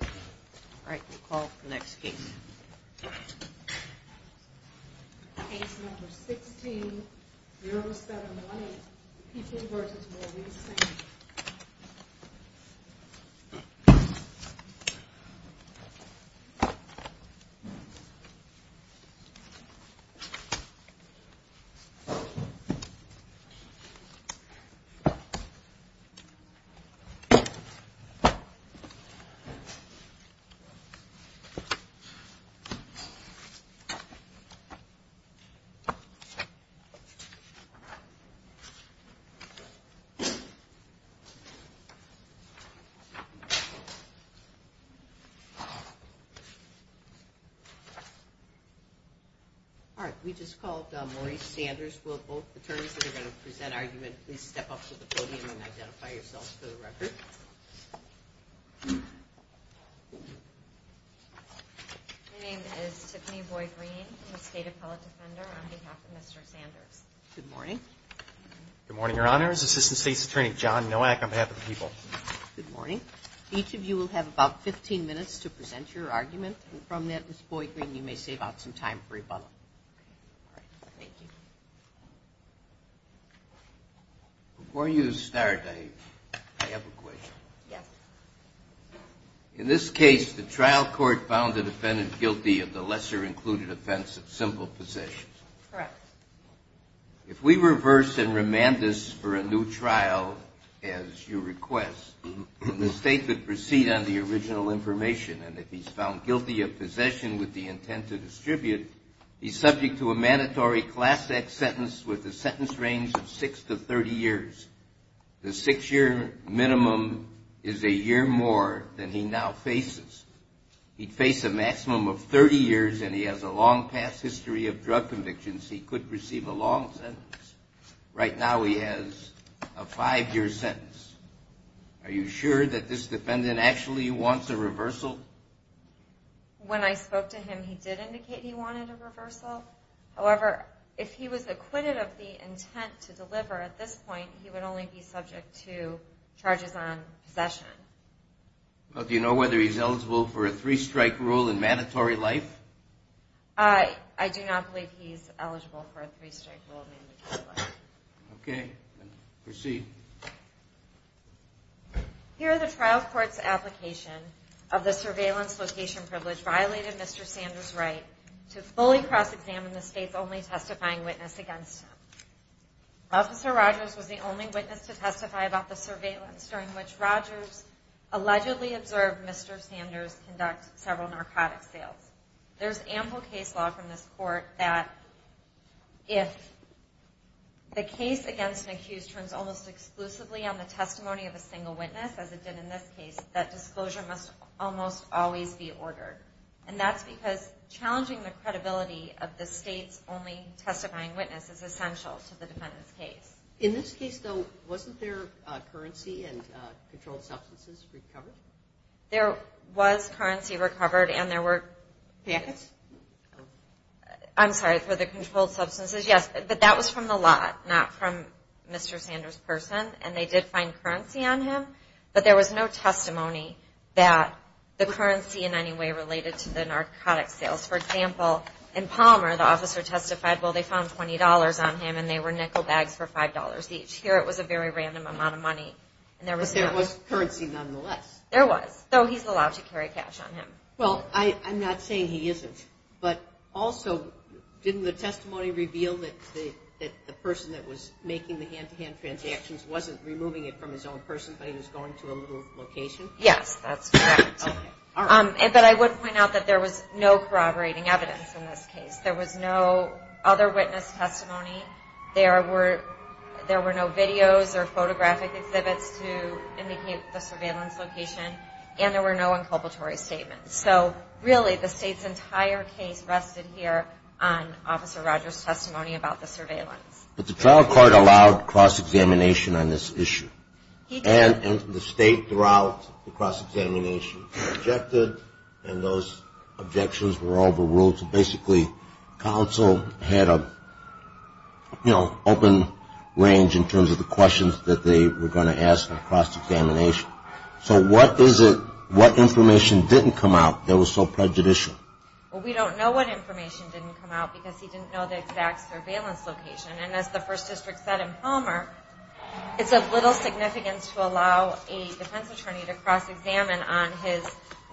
All right, we'll call for the next case. Case number 16, zero spent on money, people versus more. All right, we just called Maurice Sanders. Will both attorneys that are going to present argument, please step up to the podium and identify yourselves for the record. My name is Tiffany Boyd Green. I'm a State Appellate Defender on behalf of Mr. Sanders. Good morning. Good morning, Your Honors. Assistant State's Attorney John Nowak on behalf of the people. Good morning. Each of you will have about 15 minutes to present your argument, and from that, Ms. Boyd Green, you may save out some time for rebuttal. All right, thank you. Before you start, I have a question. Yes. In this case, the trial court found the defendant guilty of the lesser-included offense of simple possession. Correct. If we reverse and remand this for a new trial, as you request, the State would proceed on the original information, and if he's found guilty of possession with the intent to distribute, he's subject to a mandatory Class X sentence with a sentence range of six to 30 years. The six-year minimum is a year more than he now faces. He'd face a maximum of 30 years, and he has a long past history of drug convictions. He could receive a long sentence. Right now, he has a five-year sentence. Are you sure that this defendant actually wants a reversal? When I spoke to him, he did indicate he wanted a reversal. However, if he was acquitted of the intent to deliver at this point, he would only be subject to charges on possession. Do you know whether he's eligible for a three-strike rule in mandatory life? I do not believe he's eligible for a three-strike rule in mandatory life. Okay. Proceed. Here, the trial court's application of the surveillance location privilege violated Mr. Sanders' right to fully cross-examine the State's only testifying witness against him. Officer Rogers was the only witness to testify about the surveillance during which Rogers allegedly observed Mr. Sanders conduct several narcotics sales. There's ample case law from this court that if the case against an accused turns almost exclusively on the testimony of a single witness, as it did in this case, that disclosure must almost always be ordered. And that's because challenging the credibility of the State's only testifying witness is essential to the defendant's case. In this case, though, wasn't there currency and controlled substances recovered? There was currency recovered, and there were... Packets? I'm sorry, for the controlled substances, yes. But that was from the lot, not from Mr. Sanders' person. And they did find currency on him, but there was no testimony that the currency in any way related to the narcotics sales. For example, in Palmer, the officer testified, well, they found $20 on him, and they were nickel bags for $5 each. Here, it was a very random amount of money, and there was no... There was currency nonetheless. There was, though he's allowed to carry cash on him. Well, I'm not saying he isn't, but also, didn't the testimony reveal that the person that was making the hand-to-hand transactions wasn't removing it from his own person, but he was going to a little location? Yes, that's correct. But I would point out that there was no corroborating evidence in this case. There was no other witness testimony. There were no videos or photographic exhibits to indicate the surveillance location, and there were no inculpatory statements. So, really, the state's entire case rested here on Officer Rogers' testimony about the surveillance. But the trial court allowed cross-examination on this issue, and the state throughout the cross-examination objected, and those objections were overruled. So, basically, counsel had an open range in terms of the questions that they were going to ask on cross-examination. So, what information didn't come out that was so prejudicial? Well, we don't know what information didn't come out because he didn't know the exact surveillance location. And as the First District said in Palmer, it's of little significance to allow a defense attorney to cross-examine on his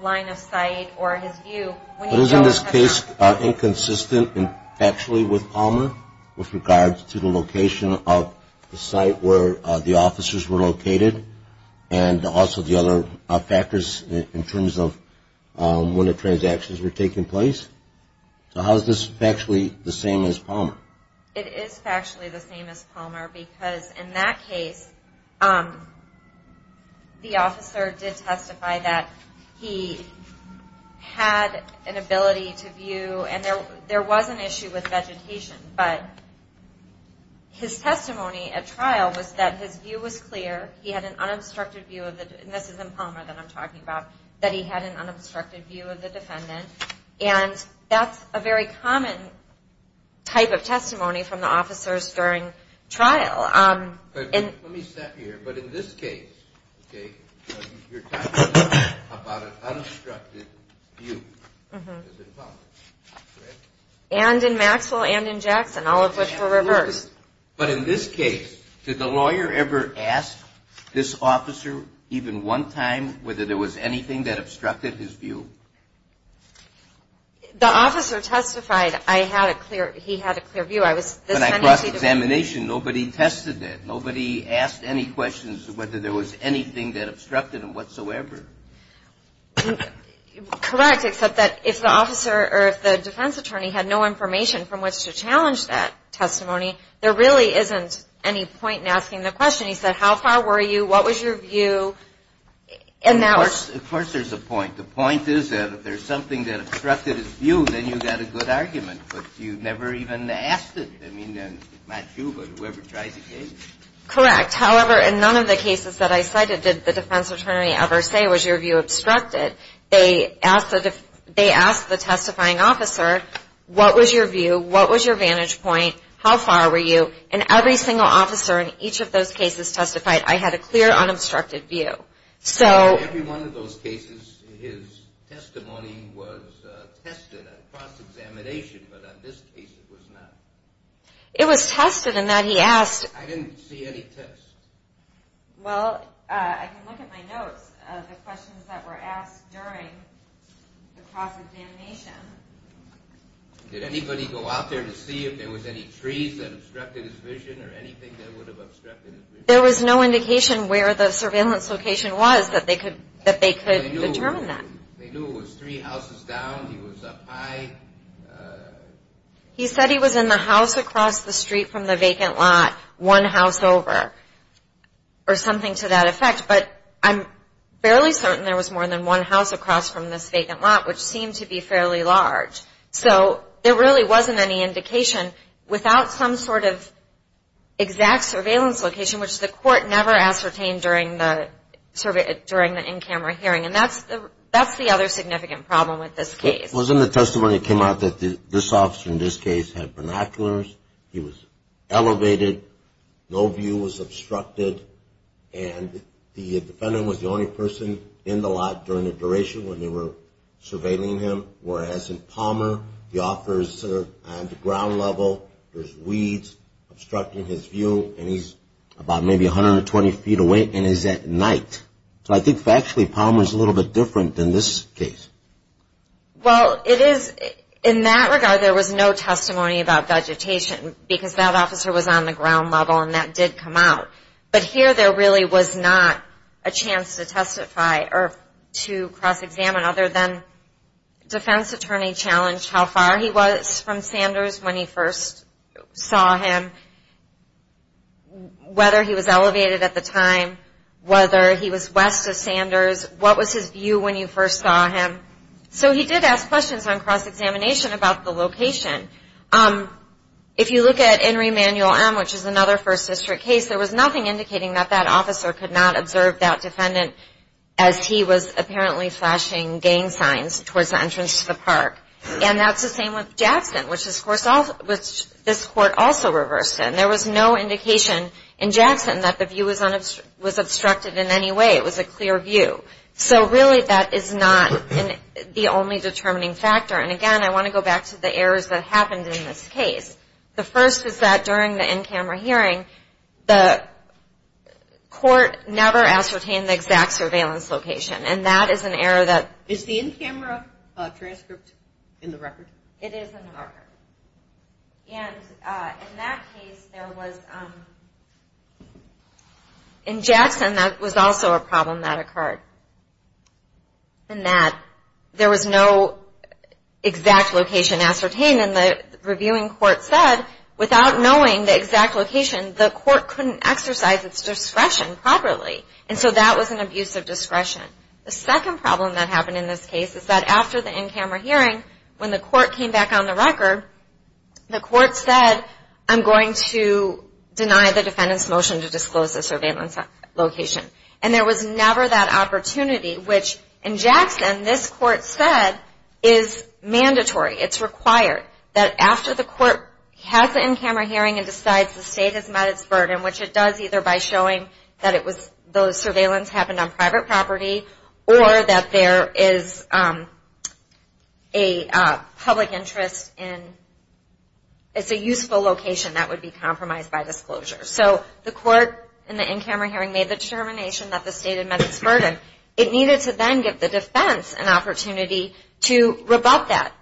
line of sight or his view. But isn't this case inconsistent, factually, with Palmer with regards to the location of the site where the officers were located, and also the other factors in terms of when the transactions were taking place? So, how is this factually the same as Palmer? It is factually the same as Palmer because, in that case, the officer did testify that he had an ability to view, and there was an issue with vegetation, but his testimony at trial was that his view was clear. He had an unobstructed view of the, and this is in Palmer that I'm talking about, that he had an unobstructed view of the defendant. And that's a very common type of testimony from the officers during trial. Let me stop you here, but in this case, okay, you're talking about an unobstructed view, as in Palmer, correct? And in Maxwell and in Jackson, all of which were reversed. But in this case, did the lawyer ever ask this officer, even one time, whether there was anything that obstructed his view? The officer testified, I had a clear, he had a clear view. When I crossed examination, nobody tested it. Nobody asked any questions whether there was anything that obstructed him whatsoever. Correct, except that if the officer, or if the defense attorney, had no information from which to challenge that testimony, there really isn't any point in asking the question. He said, how far were you? What was your view? Of course there's a point. The point is that if there's something that obstructed his view, then you've got a good argument. But you never even asked it. I mean, not you, but whoever tried the case. Correct. However, in none of the cases that I cited did the defense attorney ever say, was your view obstructed? They asked the testifying officer, what was your view? What was your vantage point? How far were you? And every single officer in each of those cases testified, I had a clear, unobstructed view. In every one of those cases, his testimony was tested at cross-examination, but in this case it was not. It was tested in that he asked... I didn't see any tests. Well, I can look at my notes of the questions that were asked during the cross-examination. Did anybody go out there to see if there was any trees that obstructed his vision or anything that would have obstructed his vision? There was no indication where the surveillance location was that they could determine that. They knew it was three houses down. He was up high. He said he was in the house across the street from the vacant lot, one house over. Or something to that effect. But I'm fairly certain there was more than one house across from this vacant lot, which seemed to be fairly large. So there really wasn't any indication without some sort of exact surveillance location, which the court never ascertained during the in-camera hearing. And that's the other significant problem with this case. It was in the testimony that came out that this officer in this case had binoculars. He was elevated. No view was obstructed. And the defendant was the only person in the lot during the duration when they were surveilling him. Whereas in Palmer, the officers are on the ground level. There's weeds obstructing his view. And he's about maybe 120 feet away. And it's at night. So I think actually Palmer is a little bit different than this case. Well, in that regard, there was no testimony about vegetation because that officer was on the ground level and that did come out. But here there really was not a chance to cross-examine other than defense attorney challenged how far he was from Sanders when he first saw him, whether he was elevated at the time, whether he was west of Sanders, what was his view when you first saw him. So he did ask questions on cross-examination about the location. If you look at Enry Manual M, which is another First District case, there was nothing indicating that that officer could not observe that defendant as he was apparently flashing gang signs towards the entrance to the park. And that's the same with Jackson, which this Court also reversed. And there was no indication in Jackson that the view was obstructed in any way. It was a clear view. So really that is not the only determining factor. And again, I want to go back to the errors that happened in this case. The first is that during the in-camera hearing, the Court never ascertained the exact surveillance location. And that is an error that... Is the in-camera transcript in the record? It is in the record. And in that case, there was... In Jackson, that was also a problem that occurred, in that there was no exact location ascertained. And the reviewing Court said, without knowing the exact location, the Court couldn't exercise its discretion properly. And so that was an abuse of discretion. The second problem that happened in this case is that after the in-camera hearing, when the Court came back on the record, the Court said, I'm going to deny the defendant's motion to disclose the surveillance location. And there was never that opportunity, which in Jackson, this Court said, is mandatory. It's required that after the Court has the in-camera hearing and decides the State has met its burden, which it does either by showing that those surveillance happened on private property, or that there is a public interest in... It's a useful location that would be compromised by disclosure. So the Court in the in-camera hearing made the determination that the State had met its burden. It needed to then give the defense an opportunity to rebut that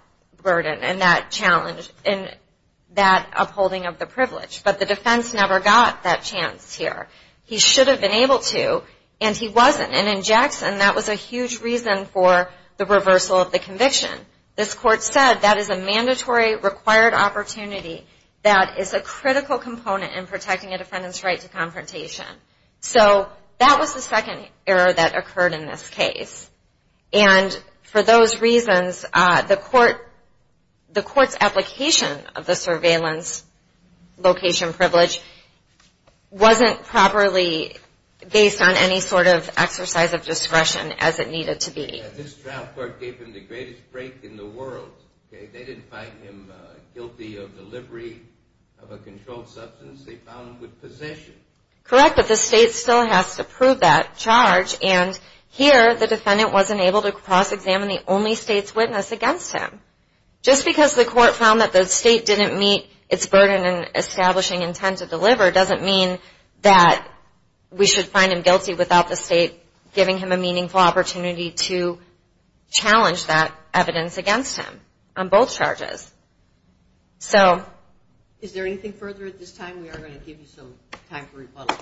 burden and that challenge and that upholding of the privilege. But the defense never got that chance here. He should have been able to, and he wasn't. And in Jackson, that was a huge reason for the reversal of the conviction. This Court said that is a mandatory required opportunity that is a critical component in protecting a defendant's right to confrontation. So that was the second error that occurred in this case. And for those reasons, the Court's application of the surveillance location privilege wasn't properly based on any sort of exercise of discretion as it needed to be. This trial court gave him the greatest break in the world. They didn't find him guilty of delivery of a controlled substance. They found him with possession. Correct, but the State still has to prove that charge. And here, the defendant wasn't able to cross-examine the only State's witness against him. Just because the Court found that the State didn't meet its burden in establishing intent to deliver doesn't mean that we should find him guilty without the State giving him a meaningful opportunity to challenge that evidence against him on both charges. Is there anything further at this time? We are going to give you some time for rebuttal.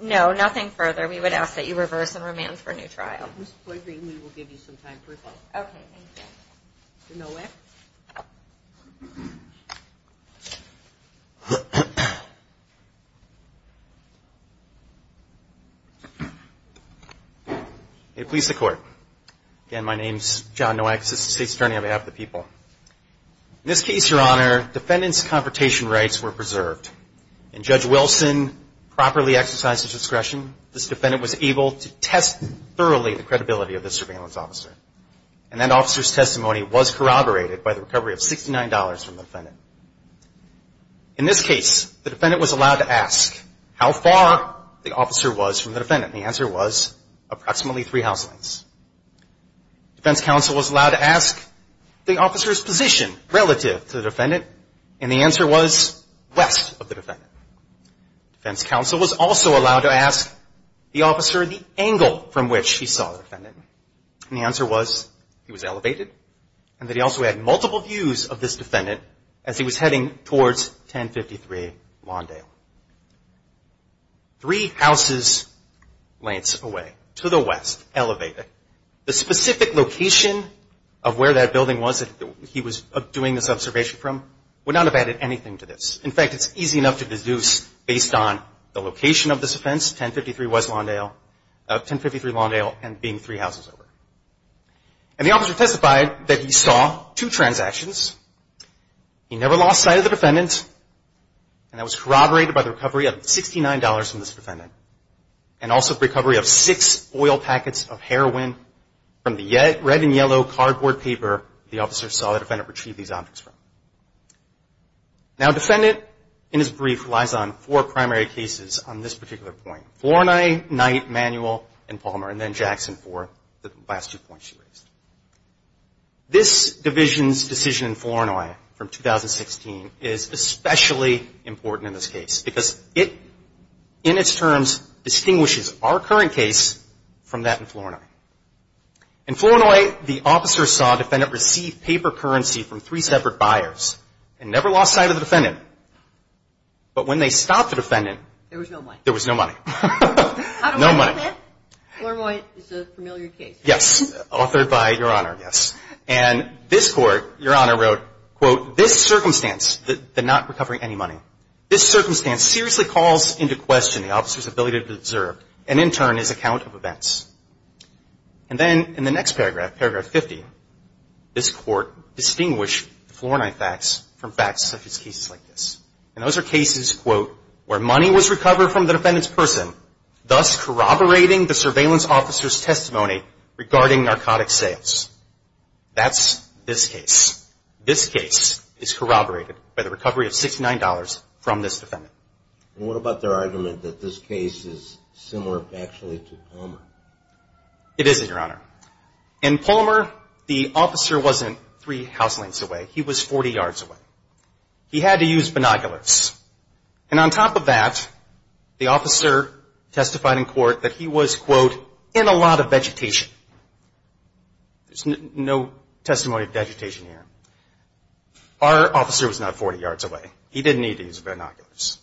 No, nothing further. We would ask that you reverse and remand for a new trial. We will give you some time for rebuttal. Okay, thank you. May it please the Court. Again, my name is John Nowak, Assistant State's Attorney on behalf of the people. In this case, Your Honor, defendant's confrontation rights were preserved. And Judge Wilson properly exercised his discretion. This defendant was able to test thoroughly the credibility of the surveillance officer. And that officer's testimony was corroborated by the recovery of $69 from the defendant. In this case, the defendant was allowed to ask how far the officer was from the defendant. And the answer was approximately three house lengths. Defense counsel was allowed to ask the officer's position relative to the defendant. And the answer was west of the defendant. Defense counsel was also allowed to ask the officer the angle from which he saw the defendant. And the answer was he was elevated. And that he also had multiple views of this defendant as he was heading towards 1053 Lawndale. Three house lengths away. To the west. Elevated. The specific location of where that building was that he was doing this observation from would not have added anything to this. In fact, it's easy enough to deduce based on the location of this offense. 1053 Lawndale and being three houses over. And the officer testified that he saw two transactions. He never lost sight of the defendant. And that was corroborated by the recovery of $69 from this defendant. And also the recovery of six oil packets of heroin from the red and yellow cardboard paper the officer saw the defendant retrieve these objects from. Now a defendant in his brief relies on four primary cases on this particular point. Flournoy, Knight, Manuel, and Palmer. And then Jackson for the last two points you raised. This division's decision in Flournoy from 2016 is especially important in this case. Because it in its terms distinguishes our current case from that in Flournoy. In Flournoy, the officer saw the defendant receive paper currency from three separate buyers. And never lost sight of the defendant. But when they stopped the defendant. There was no money. There was no money. No money. Flournoy is a familiar case. Yes. Authored by Your Honor, yes. And this court, Your Honor, wrote, quote, this circumstance, the not recovering any money. This circumstance seriously calls into question the officer's ability to deserve, and in turn, his account of events. And then in the next paragraph, paragraph 50, this court distinguished the Flournoy facts from facts such as cases like this. And those are cases, quote, where money was recovered from the defendant's person. Thus corroborating the surveillance officer's testimony regarding narcotic sales. That's this case. This case is corroborated by the recovery of $69 from this defendant. And what about their argument that this case is similar actually to Palmer? It isn't, Your Honor. In Palmer, the officer wasn't three house lengths away. He was 40 yards away. He had to use binoculars. And on top of that, the officer testified in court that he was, quote, in a lot of vegetation. There's no testimony of vegetation here. Our officer was not 40 yards away. He didn't need to use binoculars.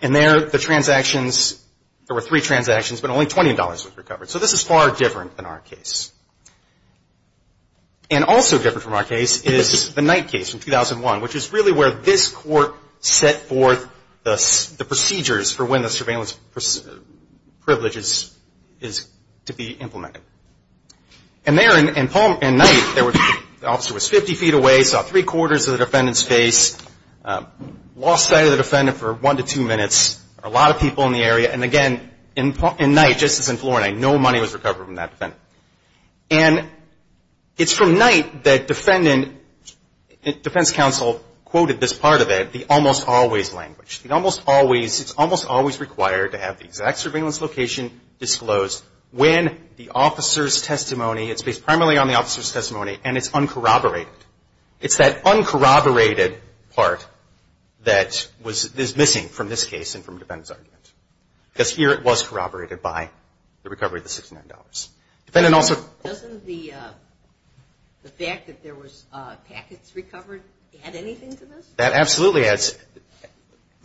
And there, the transactions, there were three transactions, but only $20 was recovered. So this is far different than our case. And also different from our case is the Knight case from 2001, which is really where this court set forth the procedures for when the surveillance privilege is to be implemented. And there in Knight, the officer was 50 feet away, saw three-quarters of the defendant's face, lost sight of the defendant for one to two minutes. There were a lot of people in the area. And again, in Knight, just as in Florida, no money was recovered from that defendant. And it's from Knight that defense counsel quoted this part of it, the almost always language. It almost always, it's almost always required to have the exact surveillance location disclosed when the officer's testimony, it's based primarily on the officer's testimony, and it's uncorroborated. It's that uncorroborated part that is missing from this case and from the defendant's argument. Because here it was corroborated by the recovery of the $69. Defendant also- Doesn't the fact that there was packets recovered add anything to this? That absolutely adds.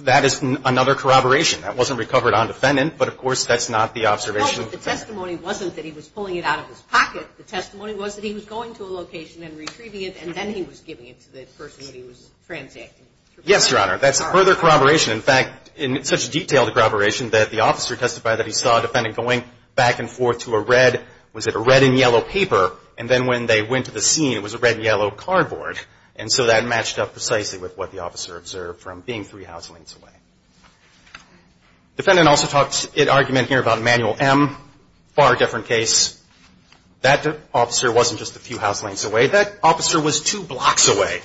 That is another corroboration. That wasn't recovered on defendant, but of course that's not the observation- No, but the testimony wasn't that he was pulling it out of his pocket. The testimony was that he was going to a location and retrieving it, and then he was giving it to the person that he was transacting. Yes, Your Honor. That's a further corroboration. In fact, in such detailed corroboration that the officer testified that he saw a defendant going back and forth to a red, was it a red and yellow paper, and then when they went to the scene, it was a red and yellow cardboard. And so that matched up precisely with what the officer observed from being three house lengths away. Defendant also talked in argument here about Manual M. Far different case. That officer wasn't just a few house lengths away. That officer was two blocks away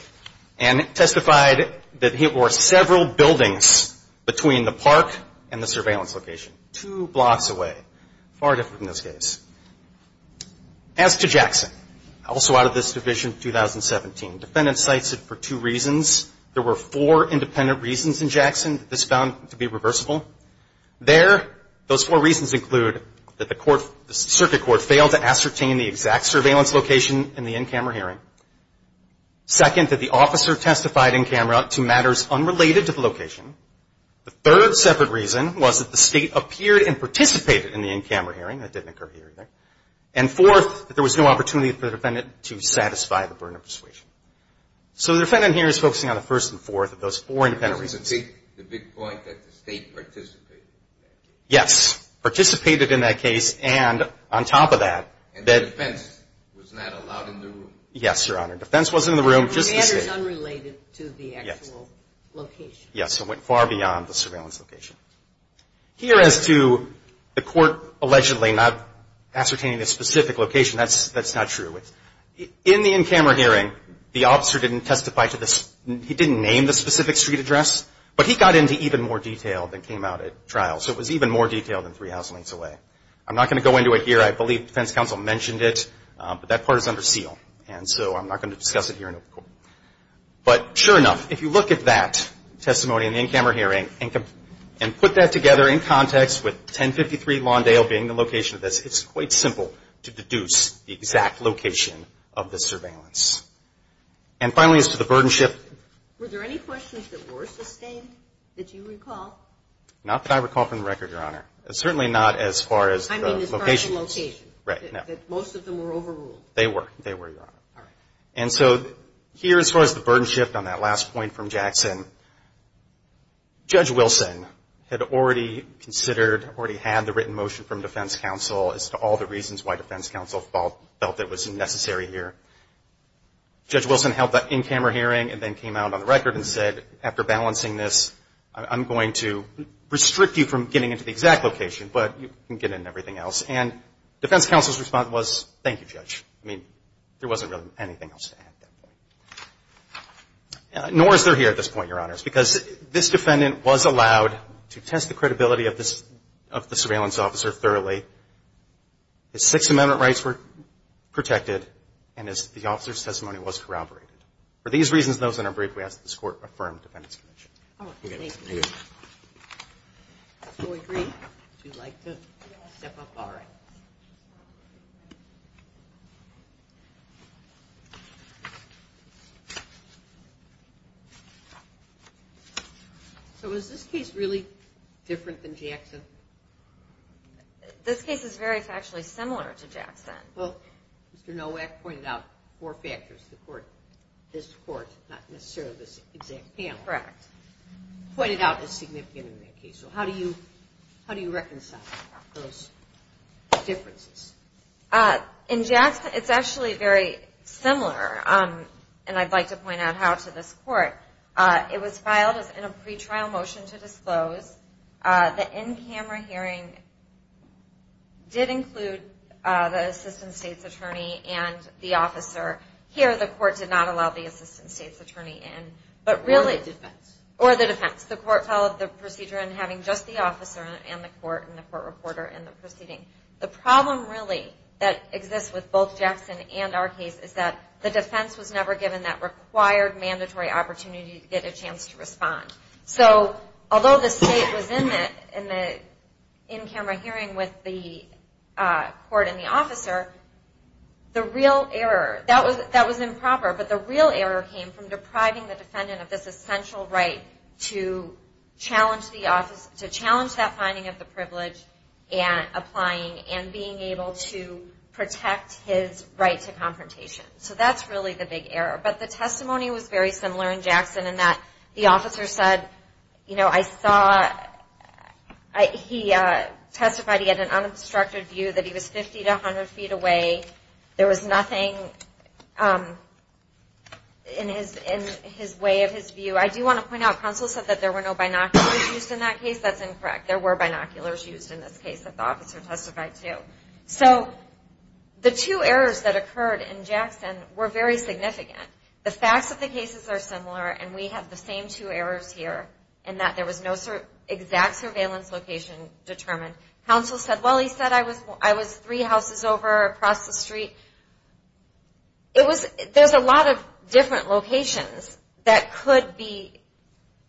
and testified that there were several buildings between the park and the surveillance location. Two blocks away. Far different in this case. As to Jackson, also out of this Division 2017, defendant cites it for two reasons. There were four independent reasons in Jackson that this found to be reversible. There, those four reasons include that the circuit court failed to ascertain the exact surveillance location in the in-camera hearing. Second, that the officer testified in camera to matters unrelated to the location. The third separate reason was that the State appeared and participated in the in-camera hearing. That didn't occur here either. And fourth, that there was no opportunity for the defendant to satisfy the Burnham persuasion. So the defendant here is focusing on the first and fourth of those four independent reasons. The big point that the State participated in that case. Yes. Participated in that case, and on top of that, that And defense was not allowed in the room. Yes, Your Honor. Defense was in the room, just the State. Matters unrelated to the actual location. Yes. It went far beyond the surveillance location. Here as to the court allegedly not ascertaining the specific location, that's not true. In the in-camera hearing, the officer didn't testify to this, he didn't name the specific street address, but he got into even more detail than came out at trial. So it was even more detailed than three house lengths away. I'm not going to go into it here. I believe defense counsel mentioned it, but that part is under seal. And so I'm not going to discuss it here in court. But sure enough, if you look at that testimony in the in-camera hearing and put that together in context with 1053 Lawndale being the location of this, it's quite simple to deduce the exact location of the surveillance. And finally, as to the burden shift... Were there any questions that were sustained that you recall? Not that I recall from the record, Your Honor. Certainly not as far as the locations. I mean as far as the locations. Right. No. That most of them were overruled. They were. They were, Your Honor. And so here as far as the burden shift on that last point from Jackson, Judge Wilson had already considered, already had the written motion from defense counsel as to all the reasons why defense counsel felt it was necessary here. Judge Wilson held that in-camera hearing and then came out on the record and said, after balancing this, I'm going to restrict you from getting into the exact location, but you can get in everything else. And defense counsel's response was, Thank you, Judge. I mean, there wasn't really anything else to add at that point. Nor is there here at this point, Your Honors, because this defendant was allowed to test the credibility of the surveillance officer thoroughly. His Sixth Amendment rights were protected and the officer's testimony was corroborated. For these reasons, though, in our brief, we ask that this Court affirm the Defendant's Commission. Do we agree? Would you like to step up? All right. So is this case really different than Jackson? This case is very factually similar to Jackson. Well, Mr. Nowak pointed out four factors. This Court, not necessarily this exact panel. Correct. Pointed out as significant in that case. So how do you reconcile those differences? In Jackson, it's actually very similar. And I'd like to point out how to this Court. It was filed in a pretrial motion to disclose. The in-camera hearing did include the Assistant State's Attorney and the officer. Here, the Court did not allow the Assistant State's Attorney in. Or the defense. Or the defense. The Court followed the procedure in having just the officer and the Court and the Court reporter in the proceeding. The problem, really, that exists with both Jackson and our case is that the defense was never given that required, mandatory opportunity to get a chance to respond. So, although the State was in the in-camera hearing with the Court and the officer, the real error, that was improper, but the real error came from depriving the defendant of this essential right to challenge that finding of the privilege and applying and being able to protect his right to confrontation. So that's really the big error. But the testimony was very similar in Jackson in that the officer said, you know, I saw, he testified he had an unobstructed view that he was 50 to 100 feet away. There was nothing in his way of his view. I do want to point out, Counsel said that there were no binoculars used in that case. That's incorrect. There were binoculars used in this case that the officer testified to. So, the two errors that occurred in Jackson were very significant. The facts of the cases are similar and we have the same two errors here in that there was no exact surveillance location determined. Counsel said, well he said I was three houses over across the street. It was, there's a lot of different locations that could be,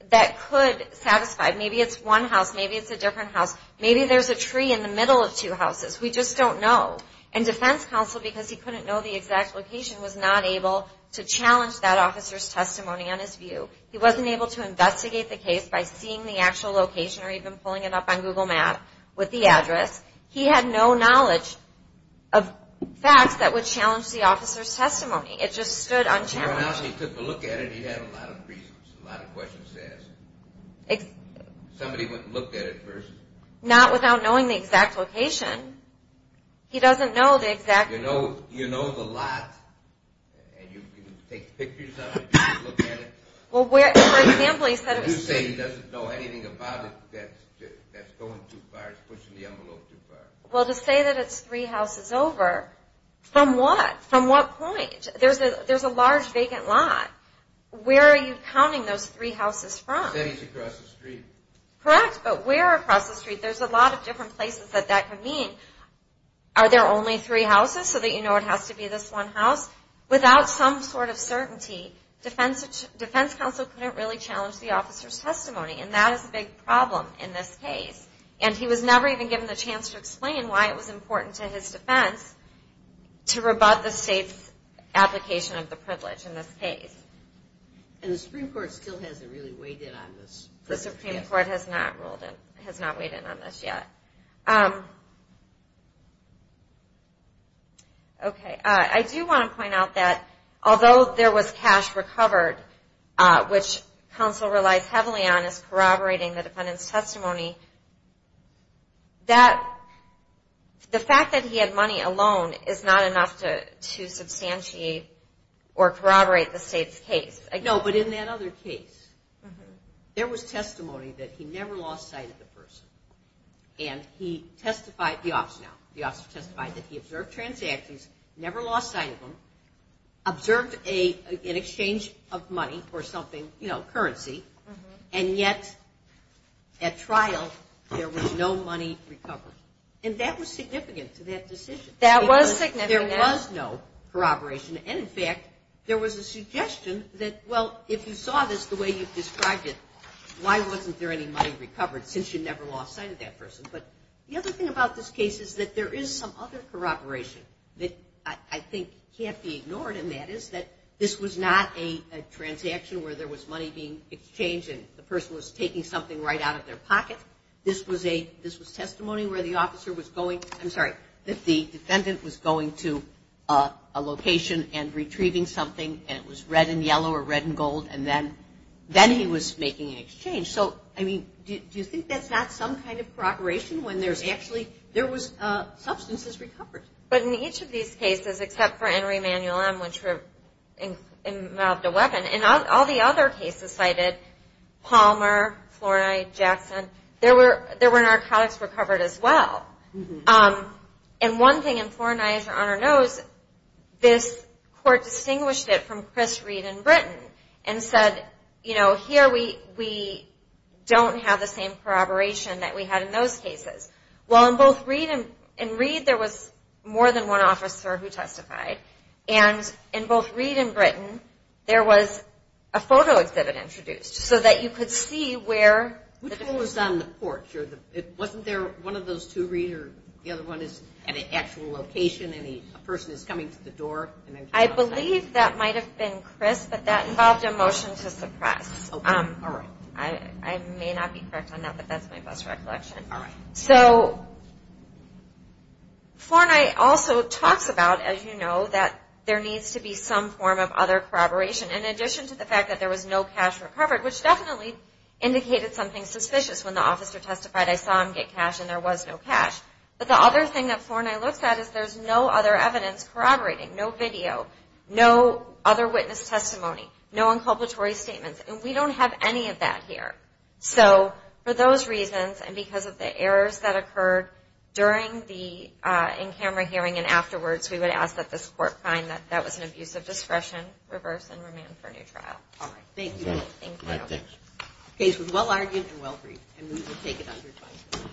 that could satisfy. Maybe it's one house. Maybe it's a different house. Maybe there's a tree in the middle of two houses. We just don't know. And Defense Counsel, because he couldn't know the exact location, was not able to challenge that officer's testimony on his view. He wasn't able to investigate the case by seeing the actual location or even pulling it up on Google Map with the address. He had no knowledge of facts that would challenge the officer's testimony. It just stood unchallenged. He took a look at it. He had a lot of reasons. A lot of questions to ask. Somebody went and looked at it first. Not without knowing the exact location. He doesn't know the exact. You know, you know the lot. And you take pictures of it. You look at it. Well, for example, he said. You say he doesn't know anything about it that's going too far. It's pushing the envelope too far. Well, to say that it's three houses over. From what? From what point? There's a large vacant lot. Where are you counting those three houses from? Cities across the street. Correct. But where across the street? There's a lot of different places that that could mean. Are there only three houses? So that you know it has to be this one house? Without some sort of certainty, defense counsel couldn't really challenge the officer's testimony. And that is a big problem in this case. And he was never even given the chance to explain why it was important to his defense to rebut the state's application of the privilege in this case. And the Supreme Court still hasn't really weighed in on this? The Supreme Court has not weighed in on this yet. Okay. I do want to point out that although there was cash recovered, which counsel relies heavily on as corroborating the defendant's testimony, that the fact that he had money alone is not enough to substantiate or corroborate the state's case. No, but in that other case, there was testimony that he never lost sight of the person. And he testified, the officer now, the officer testified that he observed transactions, never lost sight of them, observed an exchange of money or something, you know, currency, and yet at trial there was no money recovered. And that was significant to that decision. That was significant. There was no corroboration. And, in fact, there was a suggestion that, well, if you saw this the way you've described it, why wasn't there any money recovered since you never lost sight of that person? But the other thing about this case is that there is some other corroboration that I think can't be ignored, and that is that this was not a transaction where there was money being exchanged and the person was taking something right out of their pocket. This was testimony where the officer was going, I'm sorry, that the defendant was going to a location and retrieving something, and it was red and yellow or red and gold, and then he was making an exchange. So, I mean, do you think that's not some kind of corroboration when there's actually, there was substances recovered? But in each of these cases, except for Henry Emanuel M., which involved a weapon, in all the other cases cited, Palmer, Flournoy, Jackson, there were narcotics recovered as well. And one thing in Flournoy, as Your Honor knows, this court distinguished it from Chris Reed in Britain and said, you know, here we don't have the same corroboration that we had in those cases. Well, in both Reed and Britton, there was more than one officer who testified, and in both Reed and Britton, there was a photo exhibit introduced so that you could see where... Which one was on the porch? Wasn't there one of those two, Reed, or the other one is at an actual location, and a person is coming to the door? I believe that might have been Chris, but that involved a motion to suppress. All right. I may not be correct on that, but that's my best recollection. So, Flournoy also talks about, as you know, that there needs to be some form of other corroboration in addition to the fact that there was no cash recovered, which definitely indicated something suspicious when the officer testified, I saw him get cash, and there was no cash. But the other thing that Flournoy looks at is there's no other evidence corroborating, no video, no other witness testimony, no inculpatory statements, and we don't have any of that here. So, for those reasons, and because of the errors that occurred during the in-camera hearing and afterwards, we would ask that this Court find that that was an abuse of discretion, reverse, and remand for a new trial. All right. Thank you. Case was well-argued and well-briefed. And we will take it under 20 minutes.